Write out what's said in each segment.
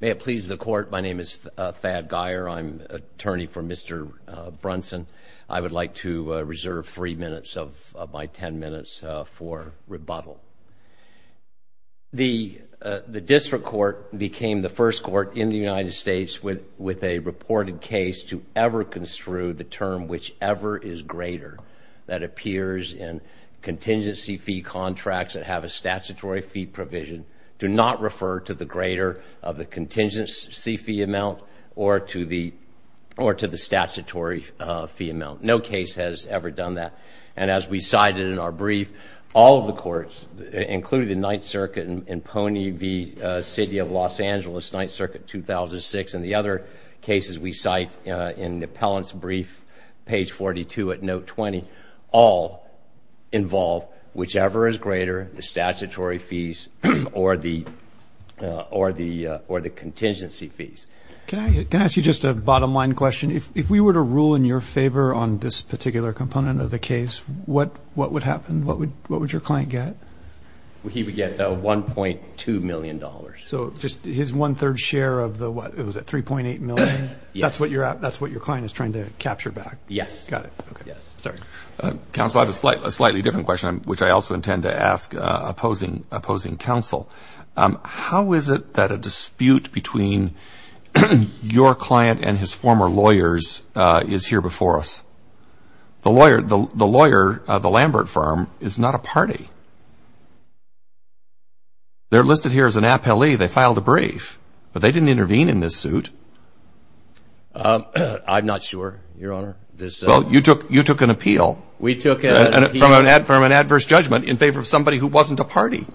May it please the Court, my name is Thad Geyer, I'm attorney for Mr. Brunson. I would like to reserve three minutes of my ten minutes for rebuttal. The district court became the first court in the United States with a reported case to ever construe the term, whichever is greater, that appears in contingency fee contracts that have a statutory fee provision do not refer to the greater of the contingency fee amount or to the statutory fee amount. No case has ever done that. And as we cited in our brief, all of the courts, including the 9th Circuit in Pony v. City of Los Angeles, 9th Circuit, 2006, and the other cases we cite in the appellant's brief, page 42 at note 20, all involve whichever is greater, the statutory fees or the contingency fees. Can I ask you just a bottom line question? If we were to rule in your favor on this particular component of the case, what would happen? What would your client get? He would get $1.2 million. So just his one-third share of the, what, was it $3.8 million? That's what your client is trying to capture back? Yes. Got it. Sorry. Counsel, I have a slightly different question, which I also intend to ask opposing counsel. How is it that a dispute between your client and his former lawyers is here before us? The lawyer, the Lambert firm, is not a party. They're listed here as an appellee. They filed a brief, but they didn't intervene in this suit. I'm not sure, Your Honor. Well, you took an appeal from an ad firm, an adverse judgment, in favor of somebody who wasn't a party.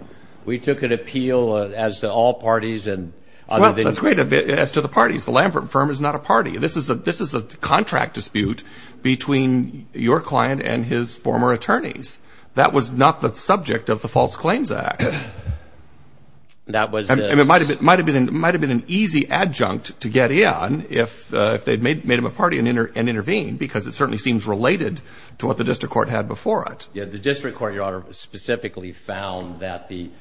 We took an appeal as to all parties. Well, that's great, as to the parties. The Lambert firm is not a party. This is a contract dispute between your client and his former attorneys. That was not the subject of the False Claims Act. And it might have been an easy adjunct to get in if they had made him a party and intervened, because it certainly seems related to what the district court had before it. The district court, Your Honor, specifically found that the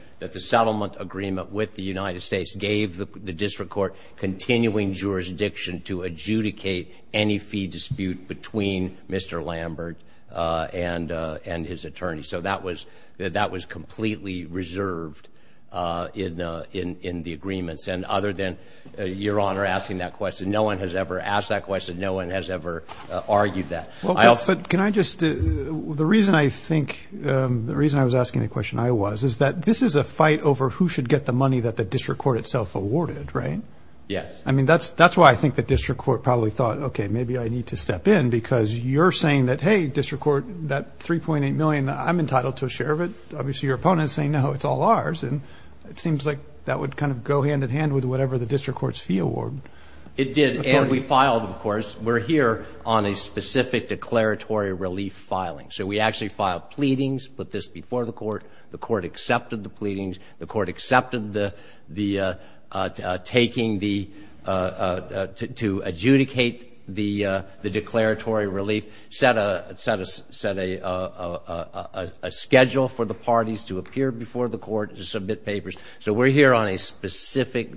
settlement agreement with the United States gave the district court continuing jurisdiction to adjudicate any fee dispute between Mr. Lambert and his attorney. So that was completely reserved in the agreements. And other than Your Honor asking that question, no one has ever asked that question. No one has ever argued that. But can I just – the reason I think – the reason I was asking the question I was, is that this is a fight over who should get the money that the district court itself awarded, right? Yes. I mean, that's why I think the district court probably thought, okay, maybe I need to step in, because you're saying that, hey, district court, that $3.8 million, I'm entitled to a share of it. Obviously, your opponent is saying, no, it's all ours. And it seems like that would kind of go hand in hand with whatever the district court's fee award. It did. And we filed, of course. We're here on a specific declaratory relief filing. So we actually filed pleadings, put this before the court. The court accepted the pleadings. The court accepted the taking the – to adjudicate the declaratory relief, set a schedule for the parties to appear before the court to submit papers. So we're here on a specific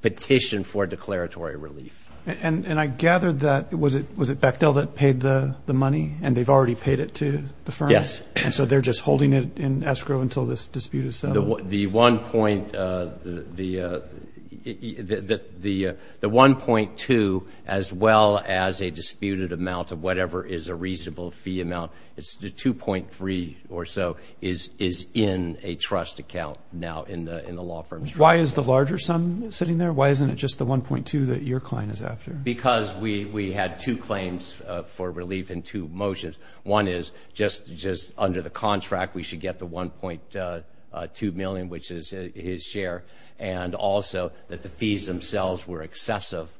petition for declaratory relief. And I gathered that – was it Bechtel that paid the money? And they've already paid it to the firm? Yes. And so they're just holding it in escrow until this dispute is settled? The 1.2, as well as a disputed amount of whatever is a reasonable fee amount, it's the 2.3 or so is in a trust account now in the law firm. Why is the larger sum sitting there? Why isn't it just the 1.2 that your client is after? Because we had two claims for relief in two motions. One is just under the contract we should get the 1.2 million, which is his share, and also that the fees themselves were excessive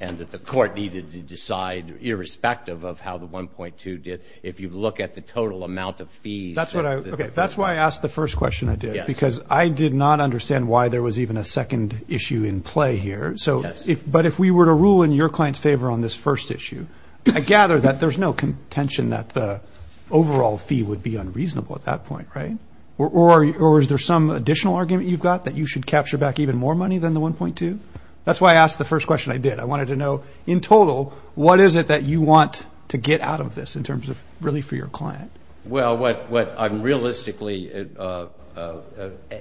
and that the court needed to decide irrespective of how the 1.2 did. If you look at the total amount of fees. That's what I – okay, that's why I asked the first question I did. Because I did not understand why there was even a second issue in play here. But if we were to rule in your client's favor on this first issue, I gather that there's no contention that the overall fee would be unreasonable at that point, right? Or is there some additional argument you've got that you should capture back even more money than the 1.2? That's why I asked the first question I did. I wanted to know in total what is it that you want to get out of this in terms of relief for your client? Well, what I'm realistically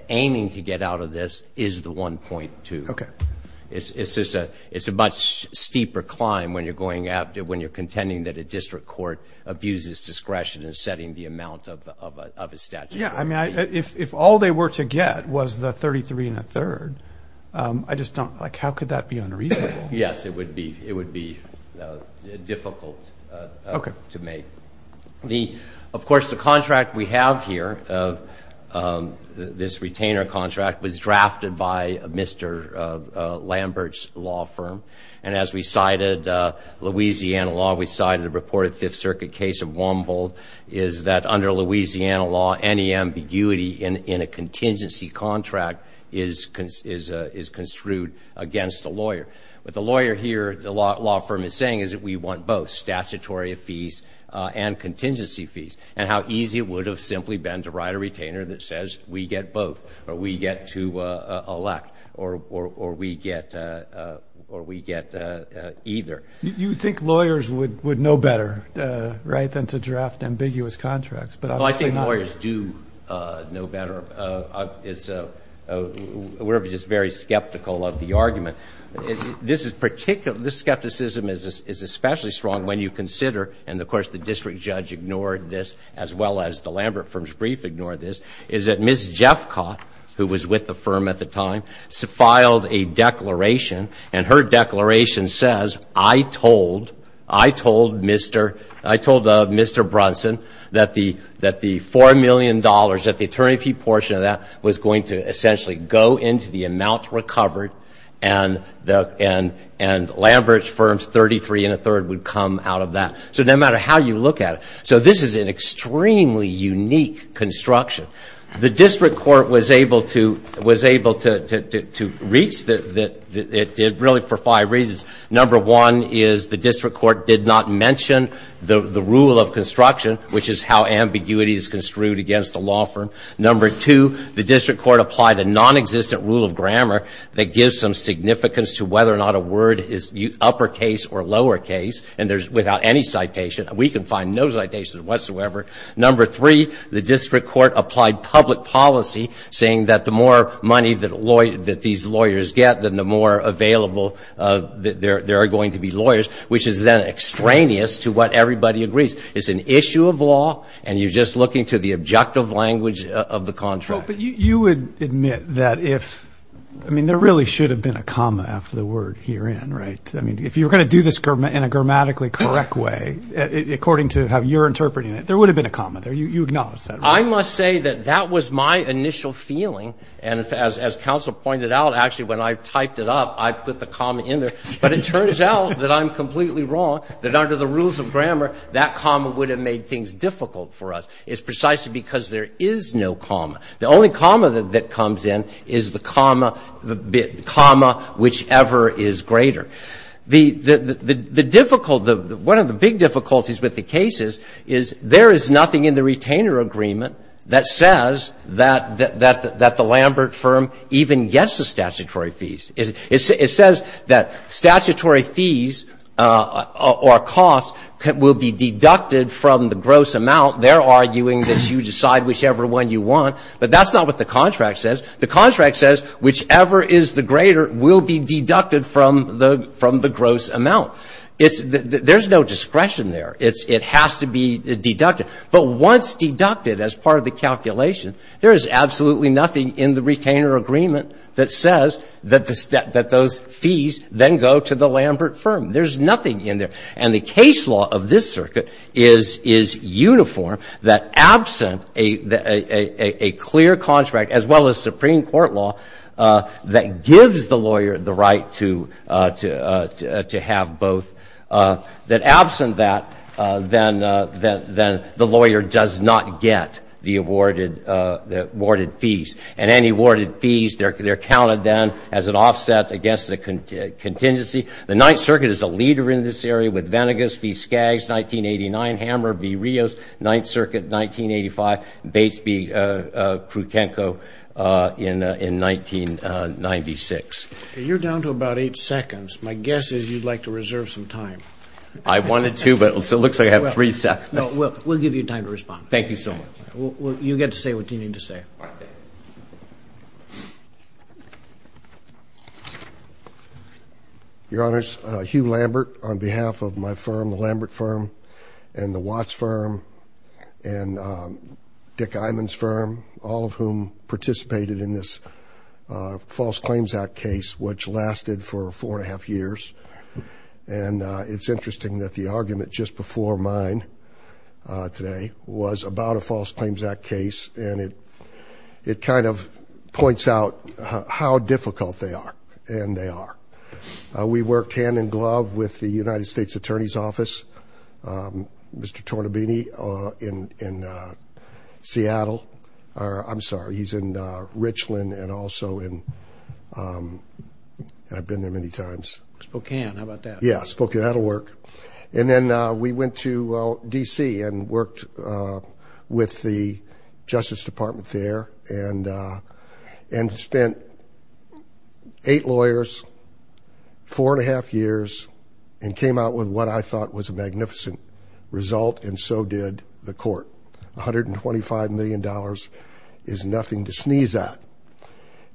aiming to get out of this is the 1.2. Okay. It's a much steeper climb when you're contending that a district court abuses discretion in setting the amount of a statute. Yeah, I mean, if all they were to get was the 33 and a third, I just don't – like, how could that be unreasonable? Yes, it would be difficult to make. Of course, the contract we have here, this retainer contract, was drafted by Mr. Lambert's law firm. And as we cited Louisiana law, we cited a reported Fifth Circuit case of Womble, is that under Louisiana law, any ambiguity in a contingency contract is construed against a lawyer. What the lawyer here, the law firm, is saying is that we want both statutory fees and contingency fees, and how easy it would have simply been to write a retainer that says we get both or we get to elect or we get either. You think lawyers would know better, right, than to draft ambiguous contracts, but obviously not. Well, I think lawyers do know better. We're just very skeptical of the argument. This is particular – this skepticism is especially strong when you consider, and of course the district judge ignored this as well as the Lambert firm's brief ignored this, is that Ms. Jeffcott, who was with the firm at the time, filed a declaration, and her declaration says, I told, I told Mr. – I told Mr. Brunson that the $4 million that the attorney fee portion of that was going to essentially go into the amount recovered and Lambert's firm's 33 and a third would come out of that. So no matter how you look at it, so this is an extremely unique construction. The district court was able to reach that really for five reasons. Number one is the district court did not mention the rule of construction, which is how ambiguity is construed against a law firm. Number two, the district court applied a nonexistent rule of grammar that gives some significance to whether or not a word is uppercase or lowercase, and there's – without any citation. We can find no citations whatsoever. Number three, the district court applied public policy, saying that the more money that lawyers – that these lawyers get, then the more available there are going to be lawyers, which is then extraneous to what everybody agrees. It's an issue of law, and you're just looking to the objective language of the contract. But you would admit that if – I mean, there really should have been a comma after the word herein, right? I mean, if you were going to do this in a grammatically correct way, according to how you're interpreting it, there would have been a comma there. You acknowledge that, right? I must say that that was my initial feeling. And as counsel pointed out, actually, when I typed it up, I put the comma in there. But it turns out that I'm completely wrong, that under the rules of grammar, that comma would have made things difficult for us. It's precisely because there is no comma. The only comma that comes in is the comma – the comma whichever is greater. The difficult – one of the big difficulties with the cases is there is nothing in the retainer agreement that says that the Lambert firm even gets the statutory fees. It says that statutory fees or costs will be deducted from the gross amount. They're arguing that you decide whichever one you want. But that's not what the contract says. The contract says whichever is the greater will be deducted from the gross amount. There's no discretion there. It has to be deducted. But once deducted as part of the calculation, there is absolutely nothing in the retainer agreement that says that those fees then go to the Lambert firm. There's nothing in there. And the case law of this circuit is uniform, that absent a clear contract, as well as Supreme Court law, that gives the lawyer the right to have both, that absent that, then the lawyer does not get the awarded fees. And any awarded fees, they're counted then as an offset against the contingency. The Ninth Circuit is a leader in this area with Venegas v. Skaggs, 1989, Hammer v. Rios, Ninth Circuit, 1985, Bates v. Krutenko in 1996. You're down to about eight seconds. My guess is you'd like to reserve some time. I wanted to, but it looks like I have three seconds. No, we'll give you time to respond. Thank you so much. You get to say what you need to say. All right. Your Honors, Hugh Lambert on behalf of my firm, the Lambert firm, and the Watts firm, and Dick Iman's firm, all of whom participated in this False Claims Act case, which lasted for four and a half years. And it's interesting that the argument just before mine today was about a False Claims Act case, and it kind of points out how difficult they are, and they are. We worked hand-in-glove with the United States Attorney's Office, Mr. Tornabini, in Seattle. I'm sorry, he's in Richland and also in – and I've been there many times. Spokane. How about that? Yeah, Spokane. That'll work. And then we went to D.C. and worked with the Justice Department there and spent eight lawyers, four and a half years, and came out with what I thought was a magnificent result, and so did the court, $125 million is nothing to sneeze at.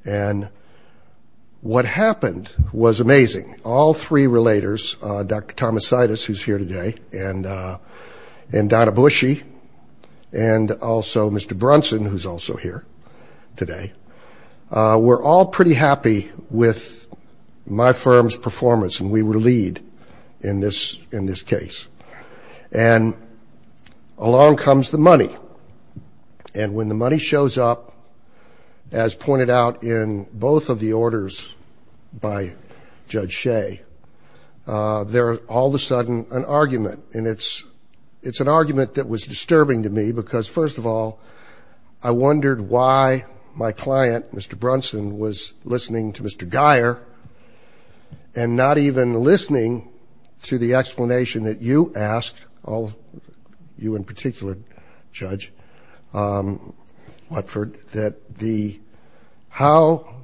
And what happened was amazing. All three relators, Dr. Thomas Situs, who's here today, and Donna Bushy, and also Mr. Brunson, who's also here today, were all pretty happy with my firm's performance, and we were lead in this case. And along comes the money, and when the money shows up, as pointed out in both of the orders by Judge Shea, there is all of a sudden an argument, and it's an argument that was disturbing to me because, first of all, I wondered why my client, Mr. Brunson, was listening to Mr. Guyer and not even listening to the explanation that you asked, you in particular, Judge Watford, that the how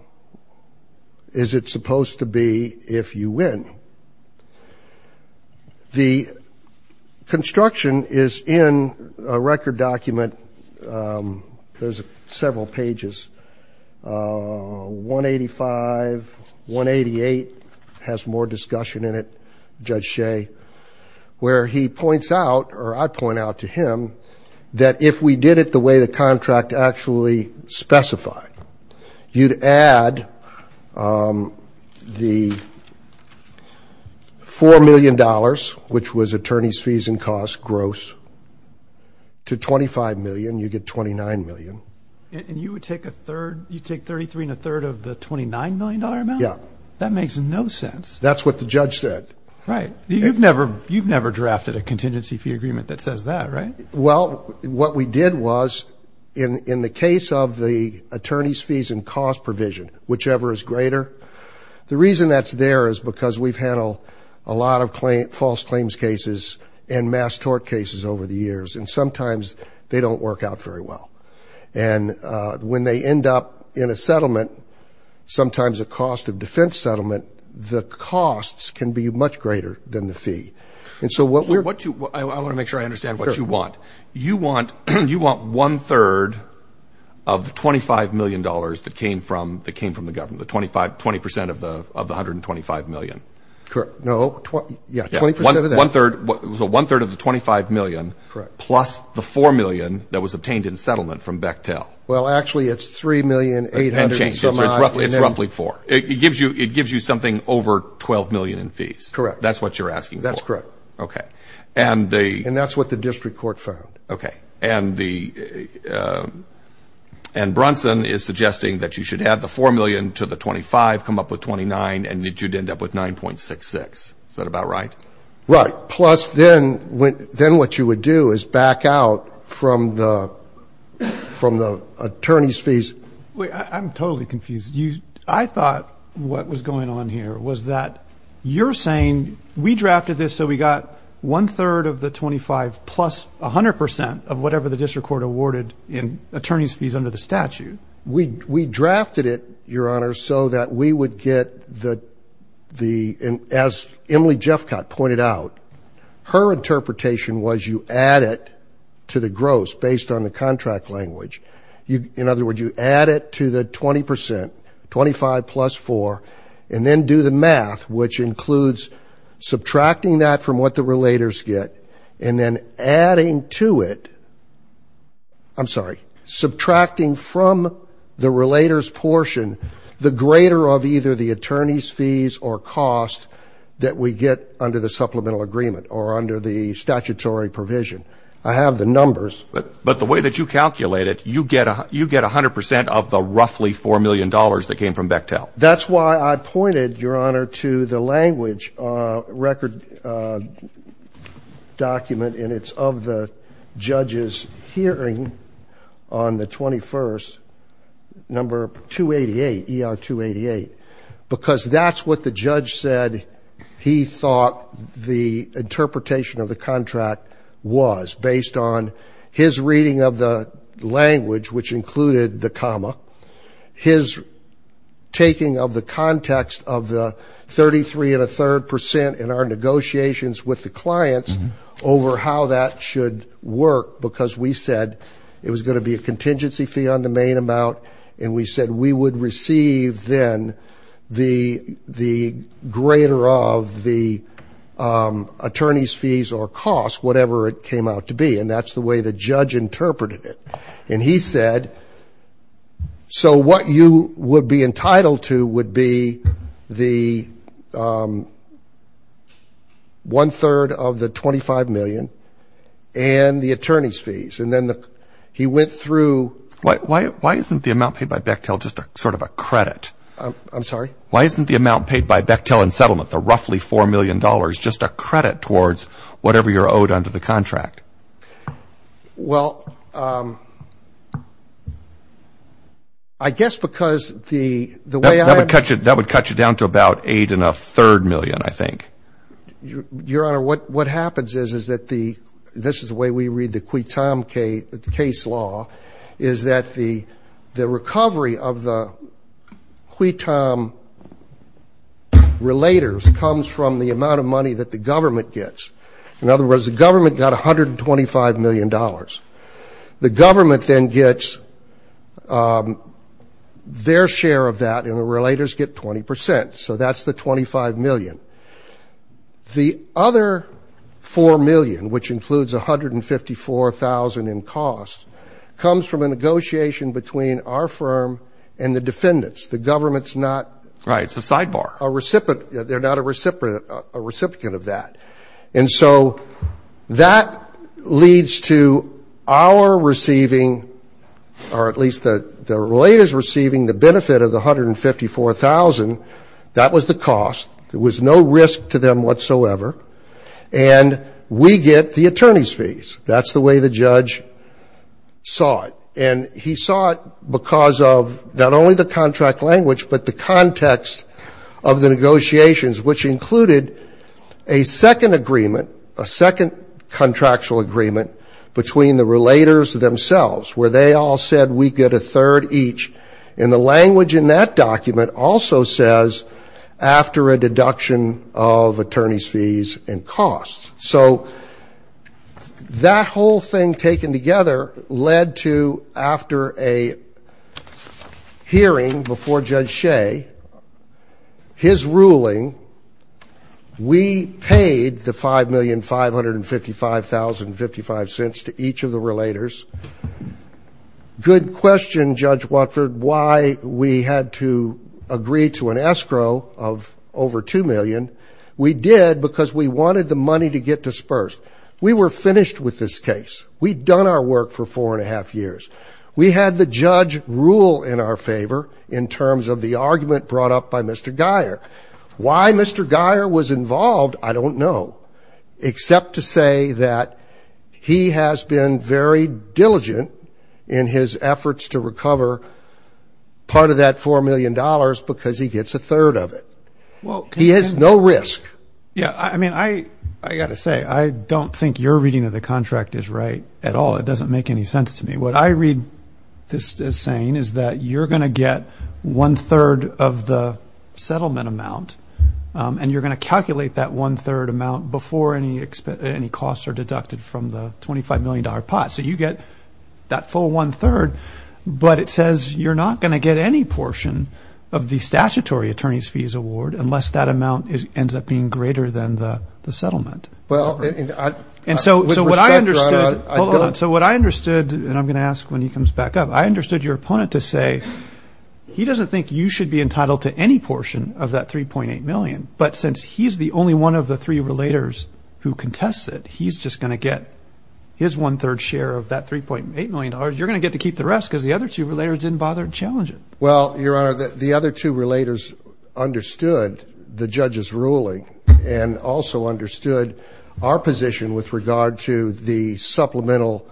is it supposed to be if you win? The construction is in a record document. There's several pages, 185, 188, has more discussion in it, Judge Shea, where he points out, or I point out to him, that if we did it the way the contract actually specified, you'd add the $4 million, which was attorney's fees and costs, gross, to $25 million. You'd get $29 million. And you would take a third, you'd take 33 and a third of the $29 million amount? Yeah. That makes no sense. That's what the judge said. Right. You've never drafted a contingency fee agreement that says that, right? Well, what we did was, in the case of the attorney's fees and cost provision, whichever is greater, the reason that's there is because we've handled a lot of false claims cases and mass tort cases over the years, and sometimes they don't work out very well. And when they end up in a settlement, sometimes a cost of defense settlement, the costs can be much greater than the fee. I want to make sure I understand what you want. You want one-third of the $25 million that came from the government, the 20% of the $125 million? Correct. No. Yeah, 20% of that. One-third of the $25 million plus the $4 million that was obtained in settlement from Bechtel. Well, actually, it's $3,800,000. It's roughly four. It gives you something over $12 million in fees. Correct. That's what you're asking for. That's correct. Okay. And that's what the district court found. Okay. And Brunson is suggesting that you should add the $4 million to the $25, come up with $29, and that you'd end up with $9.66. Is that about right? Right. Plus, then what you would do is back out from the attorney's fees. I'm totally confused. I thought what was going on here was that you're saying we drafted this so we got one-third of the $25 plus 100% of whatever the district court awarded in attorney's fees under the statute. We drafted it, Your Honor, so that we would get the, as Emily Jeffcott pointed out, her interpretation was you add it to the gross based on the contract language. In other words, you add it to the 20%, 25 plus 4, and then do the math, which includes subtracting that from what the relators get and then adding to it. I'm sorry, subtracting from the relators portion the greater of either the attorney's fees or cost that we get under the supplemental agreement or under the statutory provision. I have the numbers. But the way that you calculate it, you get 100% of the roughly $4 million that came from Bechtel. That's why I pointed, Your Honor, to the language record document, and it's of the judge's hearing on the 21st, number 288, ER-288, because that's what the judge said he thought the interpretation of the contract was based on his reading of the language, which included the comma, his taking of the context of the 33 and a third percent in our negotiations with the clients over how that should work because we said it was going to be a contingency fee on the main amount, and we said we would receive then the greater of the attorney's fees or cost, whatever it came out to be, and that's the way the judge interpreted it. And he said, so what you would be entitled to would be the one-third of the $25 million and the attorney's fees. And then he went through. Why isn't the amount paid by Bechtel just sort of a credit? I'm sorry? Why isn't the amount paid by Bechtel in settlement, the roughly $4 million, just a credit towards whatever you're owed under the contract? Well, I guess because the way I'm going to cut you down to about eight and a third million, I think. Your Honor, what happens is, is that the ‑‑ this is the way we read the QUITOM case law, is that the recovery of the QUITOM relators comes from the amount of money that the government gets. In other words, the government got $125 million. The government then gets their share of that, and the relators get 20 percent. So that's the $25 million. The other $4 million, which includes $154,000 in costs, comes from a negotiation between our firm and the defendants. The government's not ‑‑ Right. It's a sidebar. They're not a recipient of that. And so that leads to our receiving, or at least the relators receiving, the benefit of the $154,000. That was the cost. There was no risk to them whatsoever. And we get the attorney's fees. That's the way the judge saw it. And he saw it because of not only the contract language, but the context of the negotiations, which included a second agreement, a second contractual agreement, between the relators themselves, where they all said we get a third each. And the language in that document also says after a deduction of attorney's fees and costs. So that whole thing taken together led to after a hearing before Judge Shea, his ruling, we paid the $5,555,055 to each of the relators. Good question, Judge Watford, why we had to agree to an escrow of over $2 million. We did because we wanted the money to get dispersed. We were finished with this case. We'd done our work for four and a half years. We had the judge rule in our favor in terms of the argument brought up by Mr. Geyer. Why Mr. Geyer was involved, I don't know, except to say that he has been very diligent in his efforts to recover part of that $4 million because he gets a third of it. He has no risk. Yeah, I mean, I got to say, I don't think your reading of the contract is right at all. It doesn't make any sense to me. What I read this as saying is that you're going to get one-third of the settlement amount, and you're going to calculate that one-third amount before any costs are deducted from the $25 million pot. So you get that full one-third, but it says you're not going to get any portion of the statutory attorney's fees award unless that amount ends up being greater than the settlement. And so what I understood, and I'm going to ask when he comes back up, I understood your opponent to say he doesn't think you should be entitled to any portion of that $3.8 million, but since he's the only one of the three relators who contests it, he's just going to get his one-third share of that $3.8 million. You're going to get to keep the rest because the other two relators didn't bother to challenge it. Well, Your Honor, the other two relators understood the judge's ruling and also understood our position with regard to the supplemental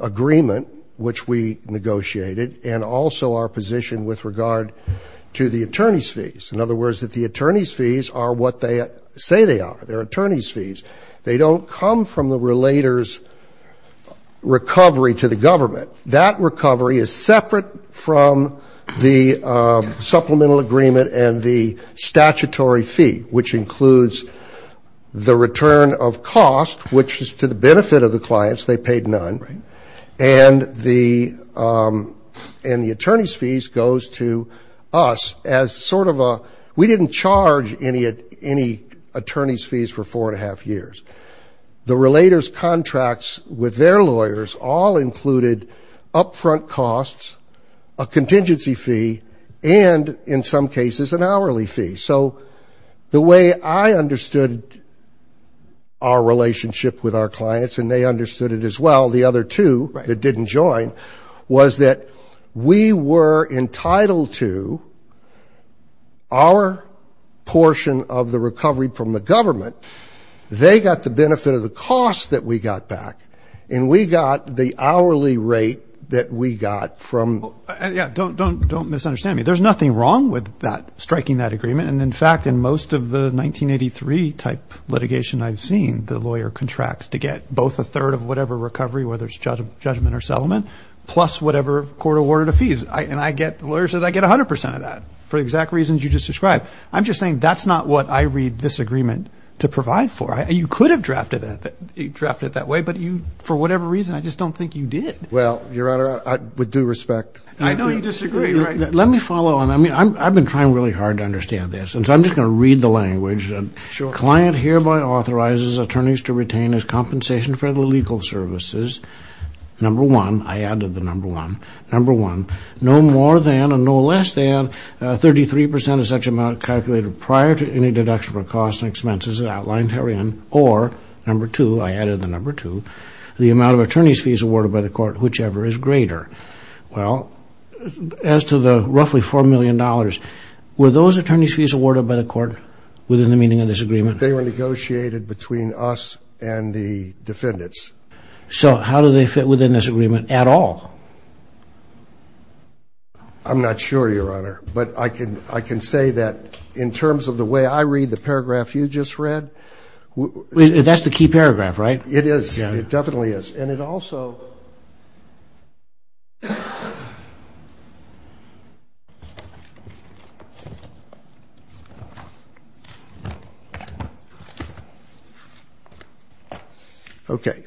agreement which we negotiated and also our position with regard to the attorney's fees. In other words, the attorney's fees are what they say they are. They're attorney's fees. They don't come from the relator's recovery to the government. That recovery is separate from the supplemental agreement and the statutory fee, which includes the return of cost, which is to the benefit of the clients. They paid none. Right. And the attorney's fees goes to us as sort of a we didn't charge any attorney's fees for four and a half years. The relator's contracts with their lawyers all included upfront costs, a contingency fee, and in some cases an hourly fee. So the way I understood our relationship with our clients, and they understood it as well, the other two that didn't join, was that we were entitled to our portion of the recovery from the government. They got the benefit of the cost that we got back, and we got the hourly rate that we got from. Don't misunderstand me. There's nothing wrong with striking that agreement. And, in fact, in most of the 1983-type litigation I've seen, the lawyer contracts to get both a third of whatever recovery, whether it's judgment or settlement, plus whatever court awarded the fees. And the lawyer says I get 100 percent of that for the exact reasons you just described. I'm just saying that's not what I read this agreement to provide for. You could have drafted it that way, but for whatever reason, I just don't think you did. Well, Your Honor, with due respect. I know you disagree. Let me follow on that. I mean, I've been trying really hard to understand this, and so I'm just going to read the language. Sure. Client hereby authorizes attorneys to retain as compensation for the legal services, number one. I added the number one. Number one, no more than and no less than 33 percent of such amount calculated prior to any deduction for costs and expenses as outlined herein, or, number two, I added the number two, the amount of attorney's fees awarded by the court, whichever is greater. Well, as to the roughly $4 million, were those attorney's fees awarded by the court within the meaning of this agreement? They were negotiated between us and the defendants. So how do they fit within this agreement at all? I'm not sure, Your Honor, but I can say that in terms of the way I read the paragraph you just read. That's the key paragraph, right? It is. It definitely is. And it also – okay.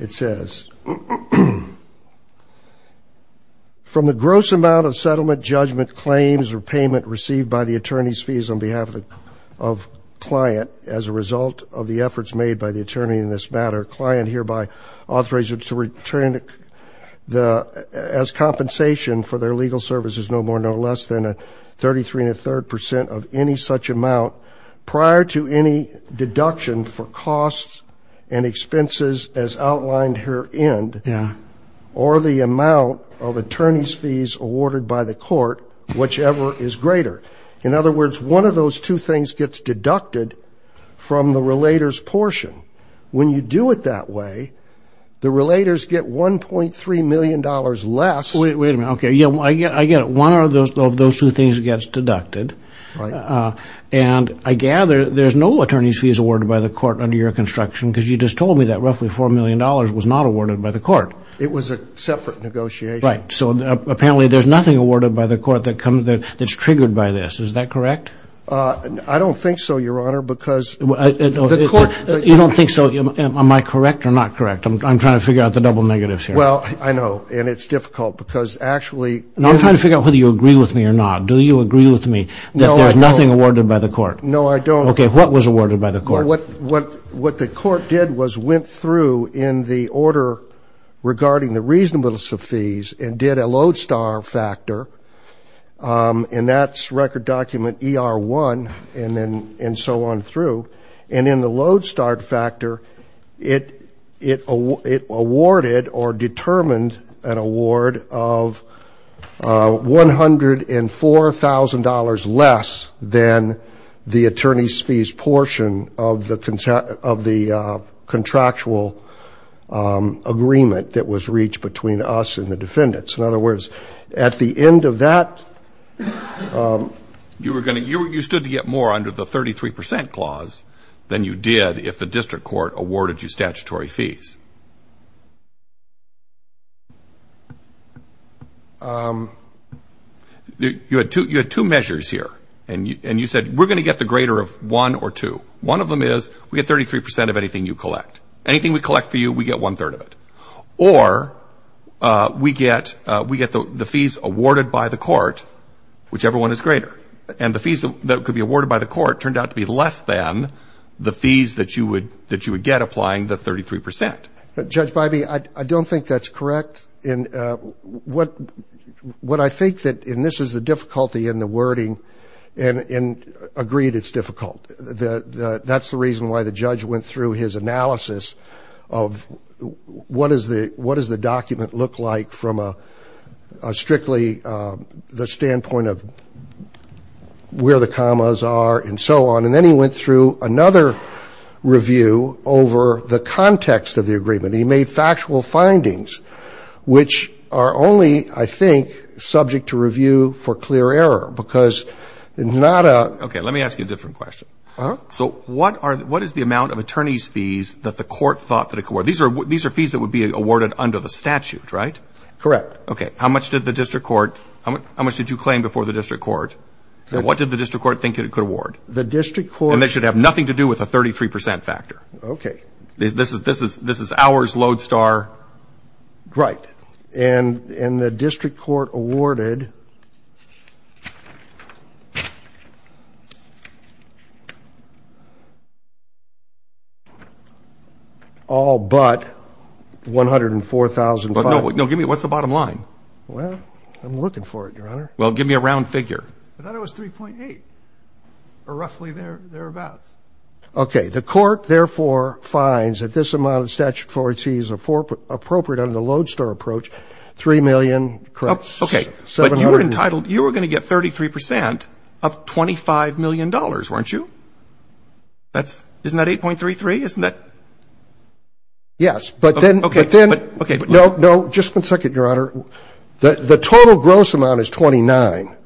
It says, From the gross amount of settlement, judgment, claims, or payment received by the attorney's fees on behalf of client as a result of the efforts made by the attorney in this matter, client hereby authorizes to retain as compensation for their legal services, no more no less than 33 and a third percent of any such amount prior to any deduction for costs and expenses as outlined herein or the amount of attorney's fees awarded by the court, whichever is greater. In other words, one of those two things gets deducted from the relator's portion. When you do it that way, the relators get $1.3 million less. Wait a minute. Okay. Yeah, I get it. One of those two things gets deducted. Right. And I gather there's no attorney's fees awarded by the court under your construction because you just told me that roughly $4 million was not awarded by the court. It was a separate negotiation. Right. So apparently there's nothing awarded by the court that's triggered by this. Is that correct? I don't think so, Your Honor, because the court – You don't think so? Am I correct or not correct? I'm trying to figure out the double negatives here. Well, I know, and it's difficult because actually – I'm trying to figure out whether you agree with me or not. Do you agree with me that there's nothing awarded by the court? No, I don't. Okay. What was awarded by the court? What the court did was went through in the order regarding the reasonableness of fees and did a load start factor, and that's record document ER1 and so on through. And in the load start factor, it awarded or determined an award of $104,000 less than the attorney's fees portion of the contractual agreement that was reached between us and the defendants. In other words, at the end of that – You stood to get more under the 33% clause than you did if the district court awarded you statutory fees. You had two measures here, and you said we're going to get the greater of one or two. One of them is we get 33% of anything you collect. Anything we collect for you, we get one-third of it. Or we get the fees awarded by the court, whichever one is greater. And the fees that could be awarded by the court turned out to be less than the fees that you would get applying the 33%. Judge Bivey, I don't think that's correct. What I think that – and this is the difficulty in the wording – and agreed it's difficult. That's the reason why the judge went through his analysis of what does the document look like from a – strictly the standpoint of where the commas are and so on. And then he went through another review over the context of the agreement. He made factual findings, which are only, I think, subject to review for clear error, because it's not a – So what is the amount of attorney's fees that the court thought that it could award? These are fees that would be awarded under the statute, right? Correct. Okay. How much did the district court – how much did you claim before the district court? What did the district court think it could award? The district court – And they should have nothing to do with a 33% factor. Okay. This is ours, Lodestar. Right. And the district court awarded all but $104,500. No, give me – what's the bottom line? Well, I'm looking for it, Your Honor. Well, give me a round figure. I thought it was 3.8 or roughly thereabouts. Okay. Okay. The court, therefore, finds that this amount of statutory fees is appropriate under the Lodestar approach, $3 million. Correct. Okay. But you were entitled – you were going to get 33% of $25 million, weren't you? Isn't that 8.33? Isn't that – Yes. But then – Okay. But – No, no. Just one second, Your Honor. The total gross amount is $29.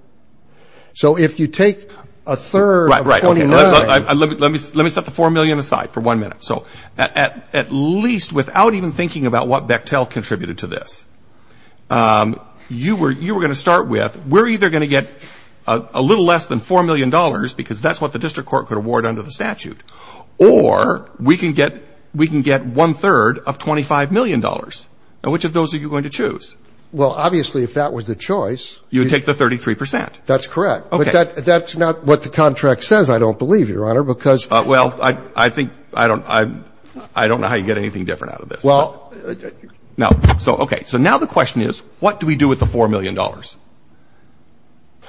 So if you take a third of $29 – Right, right. Let me set the $4 million aside for one minute. So at least without even thinking about what Bechtel contributed to this, you were going to start with we're either going to get a little less than $4 million because that's what the district court could award under the statute, or we can get one-third of $25 million. Now, which of those are you going to choose? Well, obviously, if that was the choice – You would take the 33%. That's correct. Okay. That's not what the contract says, I don't believe, Your Honor, because – Well, I think – I don't know how you get anything different out of this. Well – No. So, okay. So now the question is, what do we do with the $4 million?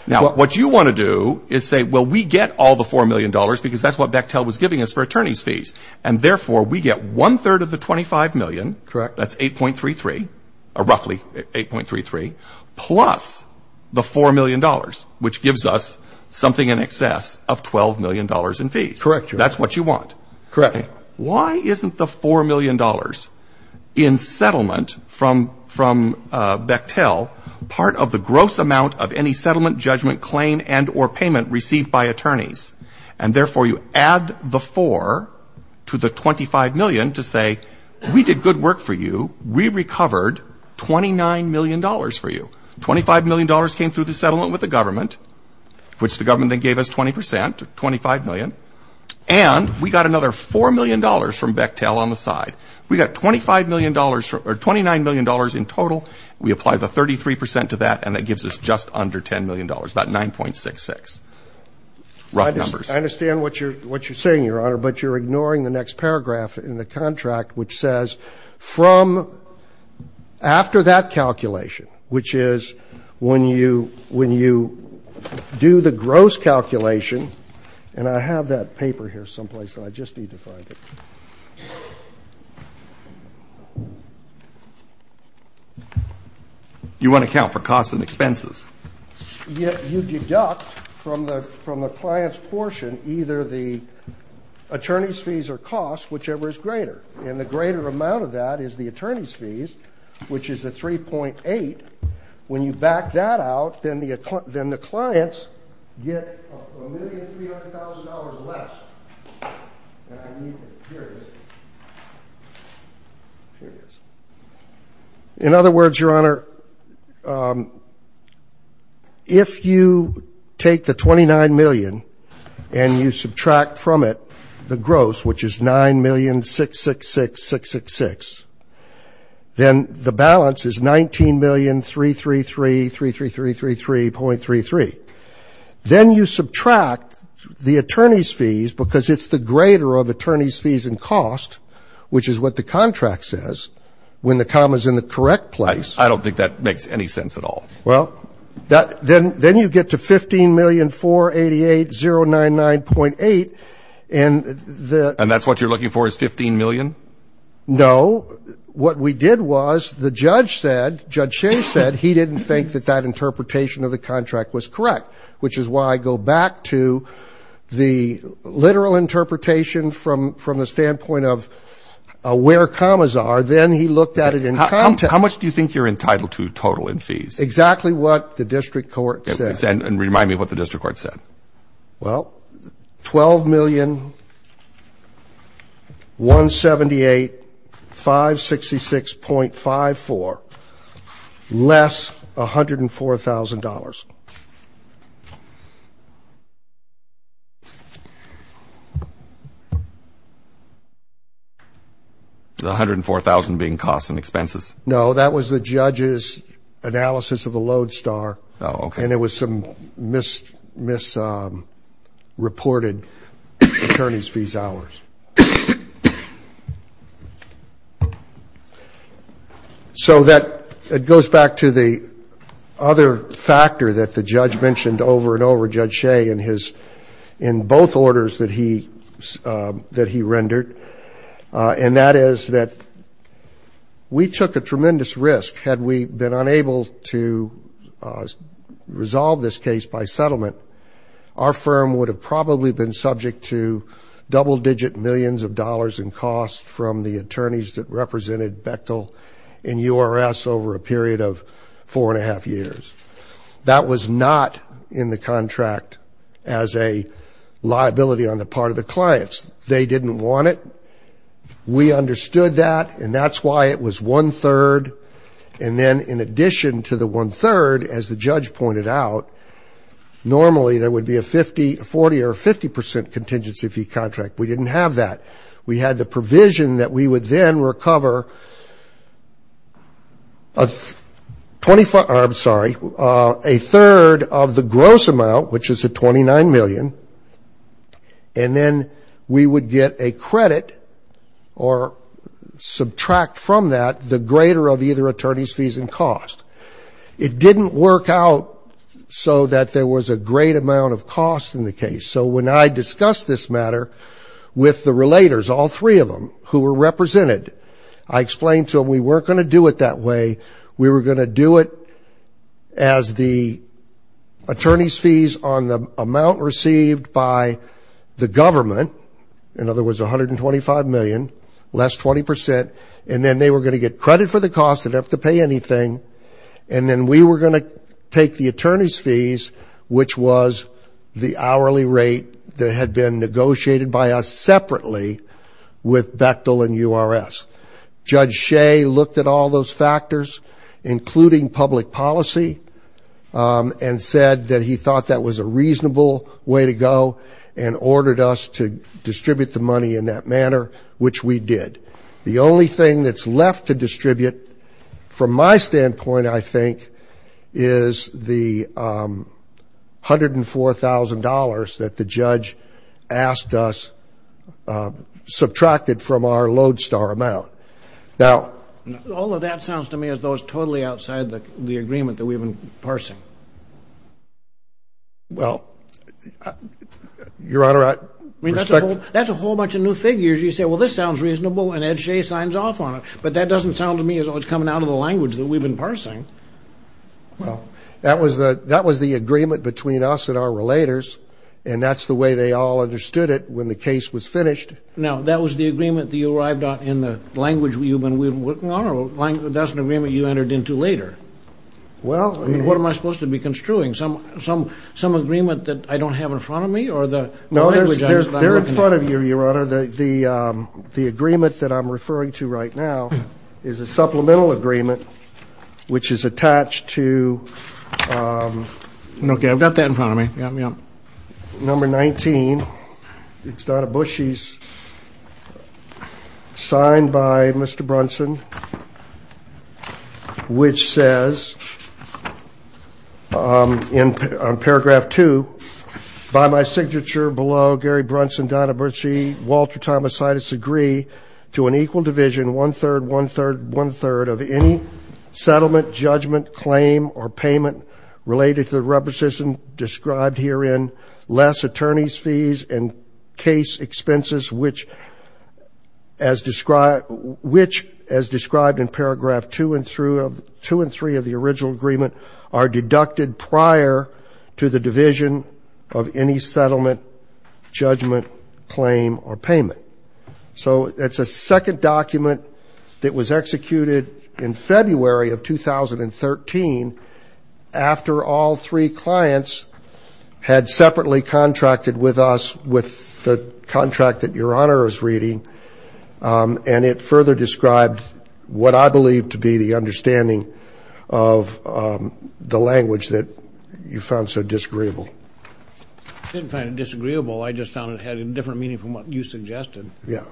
Now, what you want to do is say, well, we get all the $4 million because that's what Bechtel was giving us for attorneys' fees. And therefore, we get one-third of the $25 million. Correct. That's 8.33, roughly 8.33, plus the $4 million, which gives us something in excess of $12 million in fees. Correct, Your Honor. That's what you want. Correct. Why isn't the $4 million in settlement from Bechtel part of the gross amount of any settlement, judgment, claim, and or payment received by attorneys? And therefore, you add the $4 million to the $25 million to say, we did good work for you. We recovered $29 million for you. $25 million came through the settlement with the government, which the government then gave us 20%, or $25 million. And we got another $4 million from Bechtel on the side. We got $29 million in total. We apply the 33% to that, and that gives us just under $10 million, about 9.66. Rough numbers. I understand what you're saying, Your Honor, but you're ignoring the next paragraph in the contract, which says from after that calculation, which is when you do the gross calculation. And I have that paper here someplace, and I just need to find it. You want to account for costs and expenses. Yet you deduct from the client's portion either the attorney's fees or costs, whichever is greater. And the greater amount of that is the attorney's fees, which is the 3.8. When you back that out, then the clients get $1,300,000 less. And I need it. Here it is. Here it is. In other words, Your Honor, if you take the $29 million and you subtract from it the gross, which is $9,666,666, then the balance is $19,333,333.33. Then you subtract the attorney's fees, because it's the greater of attorney's fees and costs, which is what the contract says when the comma is in the correct place. I don't think that makes any sense at all. Well, then you get to $15,488,099.8. And that's what you're looking for is $15 million? No. What we did was the judge said, Judge Shea said, he didn't think that that interpretation of the contract was correct, which is why I go back to the literal interpretation from the standpoint of where commas are. Then he looked at it in context. How much do you think you're entitled to total in fees? Exactly what the district court said. And remind me what the district court said. Well, $12,178,566.54, less $104,000. The $104,000 being costs and expenses? No, that was the judge's analysis of the load star. Oh, okay. And it was some misreported attorney's fees hours. So that goes back to the other factor that the judge mentioned over and over, Judge Shea, in both orders that he rendered, and that is that we took a tremendous risk. Had we been unable to resolve this case by settlement, our firm would have probably been subject to double-digit millions of dollars in costs from the attorneys that represented Bechtel and URS over a period of four and a half years. That was not in the contract as a liability on the part of the clients. They didn't want it. We understood that, and that's why it was one-third. And then in addition to the one-third, as the judge pointed out, normally there would be a 40% or 50% contingency fee contract. We didn't have that. We had the provision that we would then recover a third of the gross amount, which is a $29 million, and then we would get a credit or subtract from that the greater of either attorney's fees and cost. It didn't work out so that there was a great amount of cost in the case. So when I discussed this matter with the relators, all three of them who were represented, I explained to them we weren't going to do it that way. We were going to do it as the attorney's fees on the amount received by the government, in other words $125 million, less 20%, and then they were going to get credit for the cost. They didn't have to pay anything. And then we were going to take the attorney's fees, which was the hourly rate that had been negotiated by us separately with Bechtel and URS. Judge Shea looked at all those factors, including public policy, and said that he thought that was a reasonable way to go and ordered us to distribute the money in that manner, which we did. The only thing that's left to distribute from my standpoint, I think, is the $104,000 that the judge asked us subtracted from our Lodestar amount. All of that sounds to me as though it's totally outside the agreement that we've been parsing. Well, Your Honor, I respect that. That's a whole bunch of new figures. You say, well, this sounds reasonable, and Ed Shea signs off on it. But that doesn't sound to me as though it's coming out of the language that we've been parsing. Well, that was the agreement between us and our relators, and that's the way they all understood it when the case was finished. Now, that was the agreement that you arrived at in the language you've been working on, or that's an agreement you entered into later? What am I supposed to be construing, some agreement that I don't have in front of me? No, they're in front of you, Your Honor. Your Honor, the agreement that I'm referring to right now is a supplemental agreement, which is attached to number 19. It's Donna Bushy's signed by Mr. Brunson, which says, in paragraph 2, by my signature below, Gary Brunson, Donna Bushy, Walter Thomas Situs, agree to an equal division, one-third, one-third, one-third, of any settlement, judgment, claim, or payment related to the requisition described herein, less attorney's fees and case expenses, which, as described in paragraph 2 and 3 of the original agreement, are deducted prior to the division of any settlement, judgment, claim, or payment. So it's a second document that was executed in February of 2013, after all three clients had separately contracted with us with the contract that Your Honor is reading, and it further described what I believe to be the understanding of the language that you found so disagreeable. I didn't find it disagreeable. I just found it had a different meaning from what you suggested. Yeah.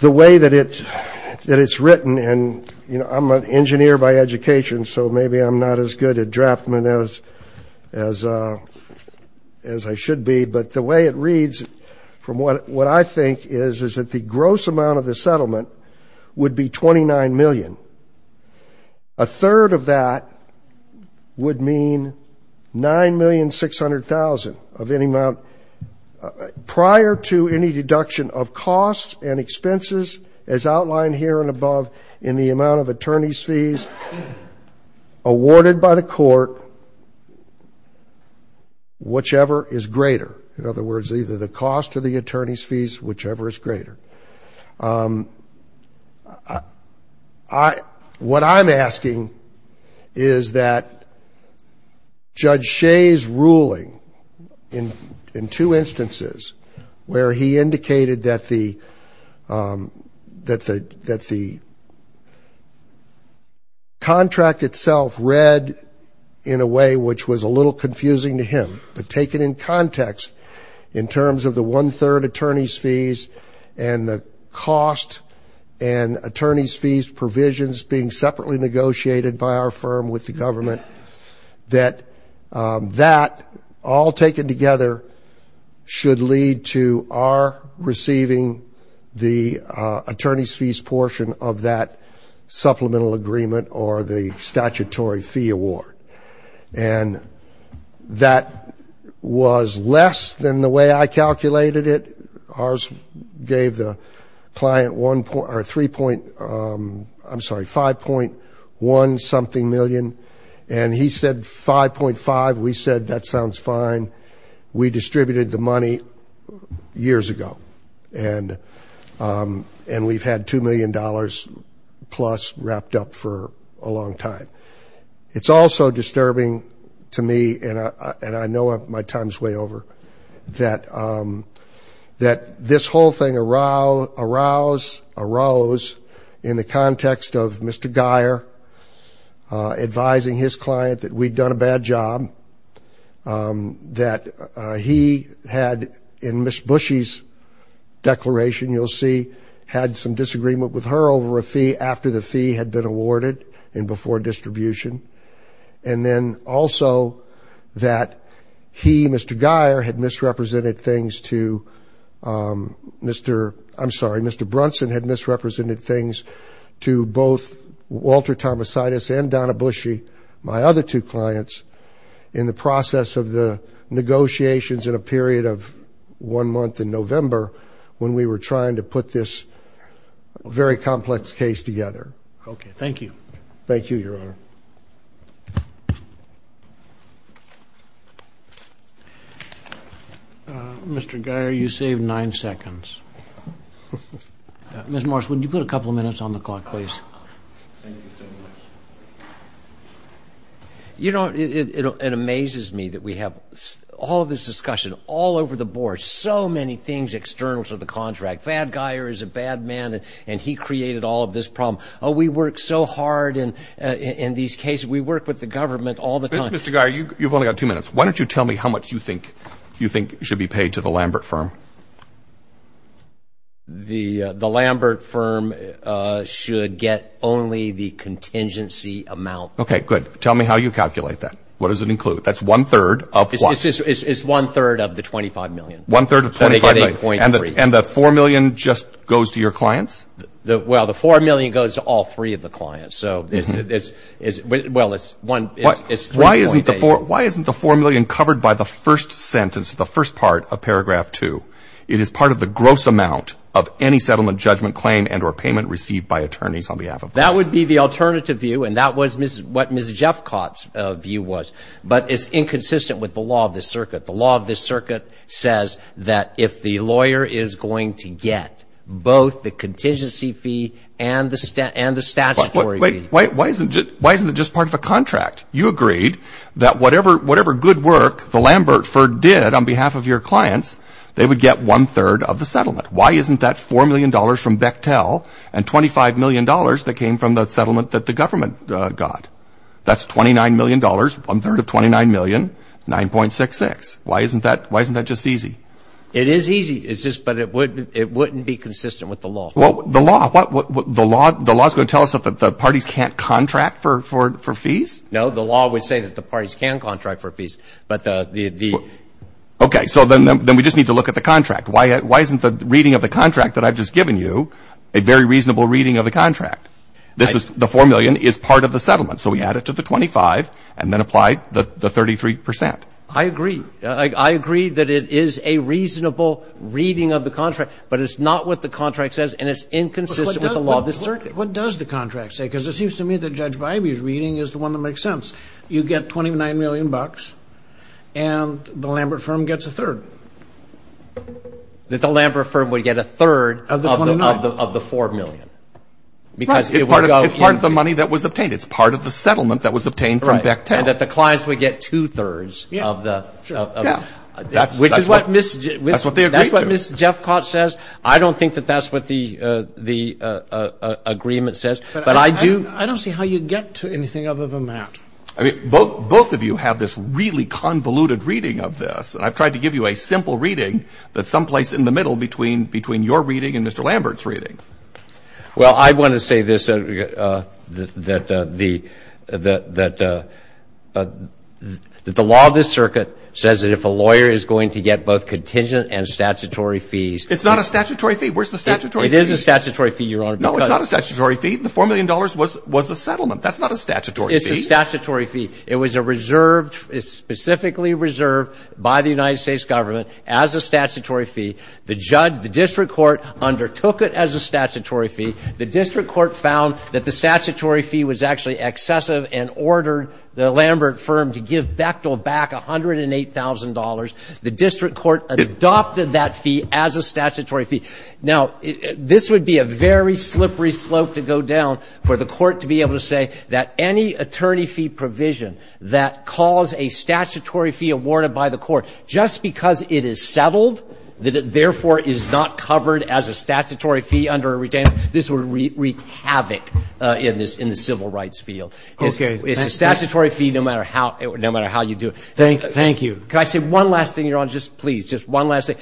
The way that it's written, and, you know, I'm an engineer by education, so maybe I'm not as good a draftsman as I should be, but the way it reads from what I think is is that the gross amount of the settlement would be $29 million. A third of that would mean $9,600,000 of any amount prior to any deduction of costs, and expenses, as outlined here and above, in the amount of attorney's fees awarded by the court, whichever is greater. In other words, either the cost or the attorney's fees, whichever is greater. What I'm asking is that Judge Shea's ruling, in two instances, where he indicated that the contract itself read in a way which was a little confusing to him, but taken in context in terms of the one-third attorney's fees and the cost and attorney's fees provisions being separately negotiated by our firm with the government, that that, all taken together, should lead to our receiving the attorney's fees portion of that supplemental agreement or the statutory fee award. And that was less than the way I calculated it. Ours gave the client one point, or three point, I'm sorry, 5.1-something million, and he said 5.5. We said, that sounds fine. We distributed the money years ago, and we've had $2 million-plus wrapped up for a long time. It's also disturbing to me, and I know my time's way over, that this whole thing arose in the context of Mr. Guyer advising his client that we'd done a bad job, that he had, in Ms. Bushy's declaration, you'll see, had some disagreement with her over a fee after the fee had been awarded and before distribution, and then also that he, Mr. Guyer, had misrepresented things to Mr. I'm sorry, Mr. Brunson had misrepresented things to both Walter Tomasinus and Donna Bushy, my other two clients, in the process of the negotiations in a period of one month in November when we were trying to put this very complex case together. Okay, thank you. Thank you, Your Honor. Mr. Guyer, you saved nine seconds. Ms. Marsh, would you put a couple of minutes on the clock, please? Thank you so much. You know, it amazes me that we have all of this discussion all over the board, so many things external to the contract. Bad Guyer is a bad man, and he created all of this problem. Oh, we work so hard in these cases. We work with the government all the time. Mr. Guyer, you've only got two minutes. Why don't you tell me how much you think should be paid to the Lambert firm? The Lambert firm should get only the contingency amount. Okay, good. Tell me how you calculate that. What does it include? That's one-third of what? It's one-third of the $25 million. One-third of $25 million. So they get a .3. And the $4 million just goes to your clients? Well, the $4 million goes to all three of the clients. So it's, well, it's $3.8 million. Why isn't the $4 million covered by the first sentence, the first part of paragraph 2? It is part of the gross amount of any settlement judgment claim and or payment received by attorneys on behalf of clients. That would be the alternative view, and that was what Ms. Jeffcott's view was. But it's inconsistent with the law of this circuit. The law of this circuit says that if the lawyer is going to get both the contingency fee and the statutory fee. Why isn't it just part of a contract? You agreed that whatever good work the Lambert firm did on behalf of your clients, they would get one-third of the settlement. Why isn't that $4 million from Bechtel and $25 million that came from the settlement that the government got? That's $29 million, one-third of $29 million, 9.66. Why isn't that just easy? It is easy. It's just that it wouldn't be consistent with the law. Well, the law. The law is going to tell us that the parties can't contract for fees? No, the law would say that the parties can contract for fees. Okay, so then we just need to look at the contract. Why isn't the reading of the contract that I've just given you a very reasonable reading of the contract? The $4 million is part of the settlement. So we add it to the 25 and then apply the 33 percent. I agree. I agree that it is a reasonable reading of the contract, but it's not what the contract says, and it's inconsistent with the law of the circuit. What does the contract say? Because it seems to me that Judge Bybee's reading is the one that makes sense. You get $29 million, and the Lambert firm gets a third. The Lambert firm would get a third of the $4 million. Right. It's part of the money that was obtained. It's part of the settlement that was obtained from Bechtel. Right, and that the clients would get two-thirds of the ---- Yeah, sure. Yeah. Which is what Ms. ---- That's what they agreed to. That's what Ms. Jeffcott says. I don't think that that's what the agreement says. But I do ---- I don't see how you'd get to anything other than that. I mean, both of you have this really convoluted reading of this, and I've tried to give you a simple reading that's someplace in the middle between your reading and Mr. Lambert's reading. Well, I want to say this, that the law of the circuit says that if a lawyer is going to get both contingent and statutory fees ---- It's not a statutory fee. Where's the statutory fee? It is a statutory fee, Your Honor. No, it's not a statutory fee. The $4 million was the settlement. That's not a statutory fee. It's a statutory fee. It was a reserved, specifically reserved by the United States government as a statutory fee. The judge, the district court, undertook it as a statutory fee. The district court found that the statutory fee was actually excessive and ordered the Lambert firm to give Bechtel back $108,000. The district court adopted that fee as a statutory fee. Now, this would be a very slippery slope to go down for the court to be able to say that any attorney fee provision that calls a statutory fee awarded by the court, just because it is settled, that it therefore is not covered as a statutory fee under a retainer, this would wreak havoc in the civil rights field. Okay. It's a statutory fee no matter how you do it. Thank you. Can I say one last thing, Your Honor, just please, just one last thing?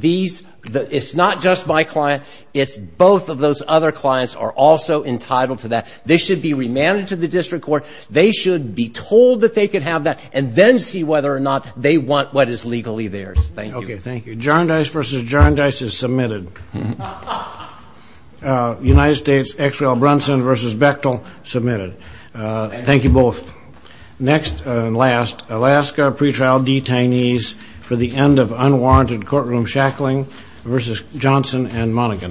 These ---- it's not just my client. It's both of those other clients are also entitled to that. They should be remanded to the district court. They should be told that they could have that and then see whether or not they want what is legally theirs. Thank you. Okay. Thank you. Jarndyce v. Jarndyce is submitted. United States, Exwell Brunson v. Bechtel, submitted. Thank you both. Next and last, Alaska pretrial detainees for the end of unwarranted courtroom shackling v. Johnson and Monaghan.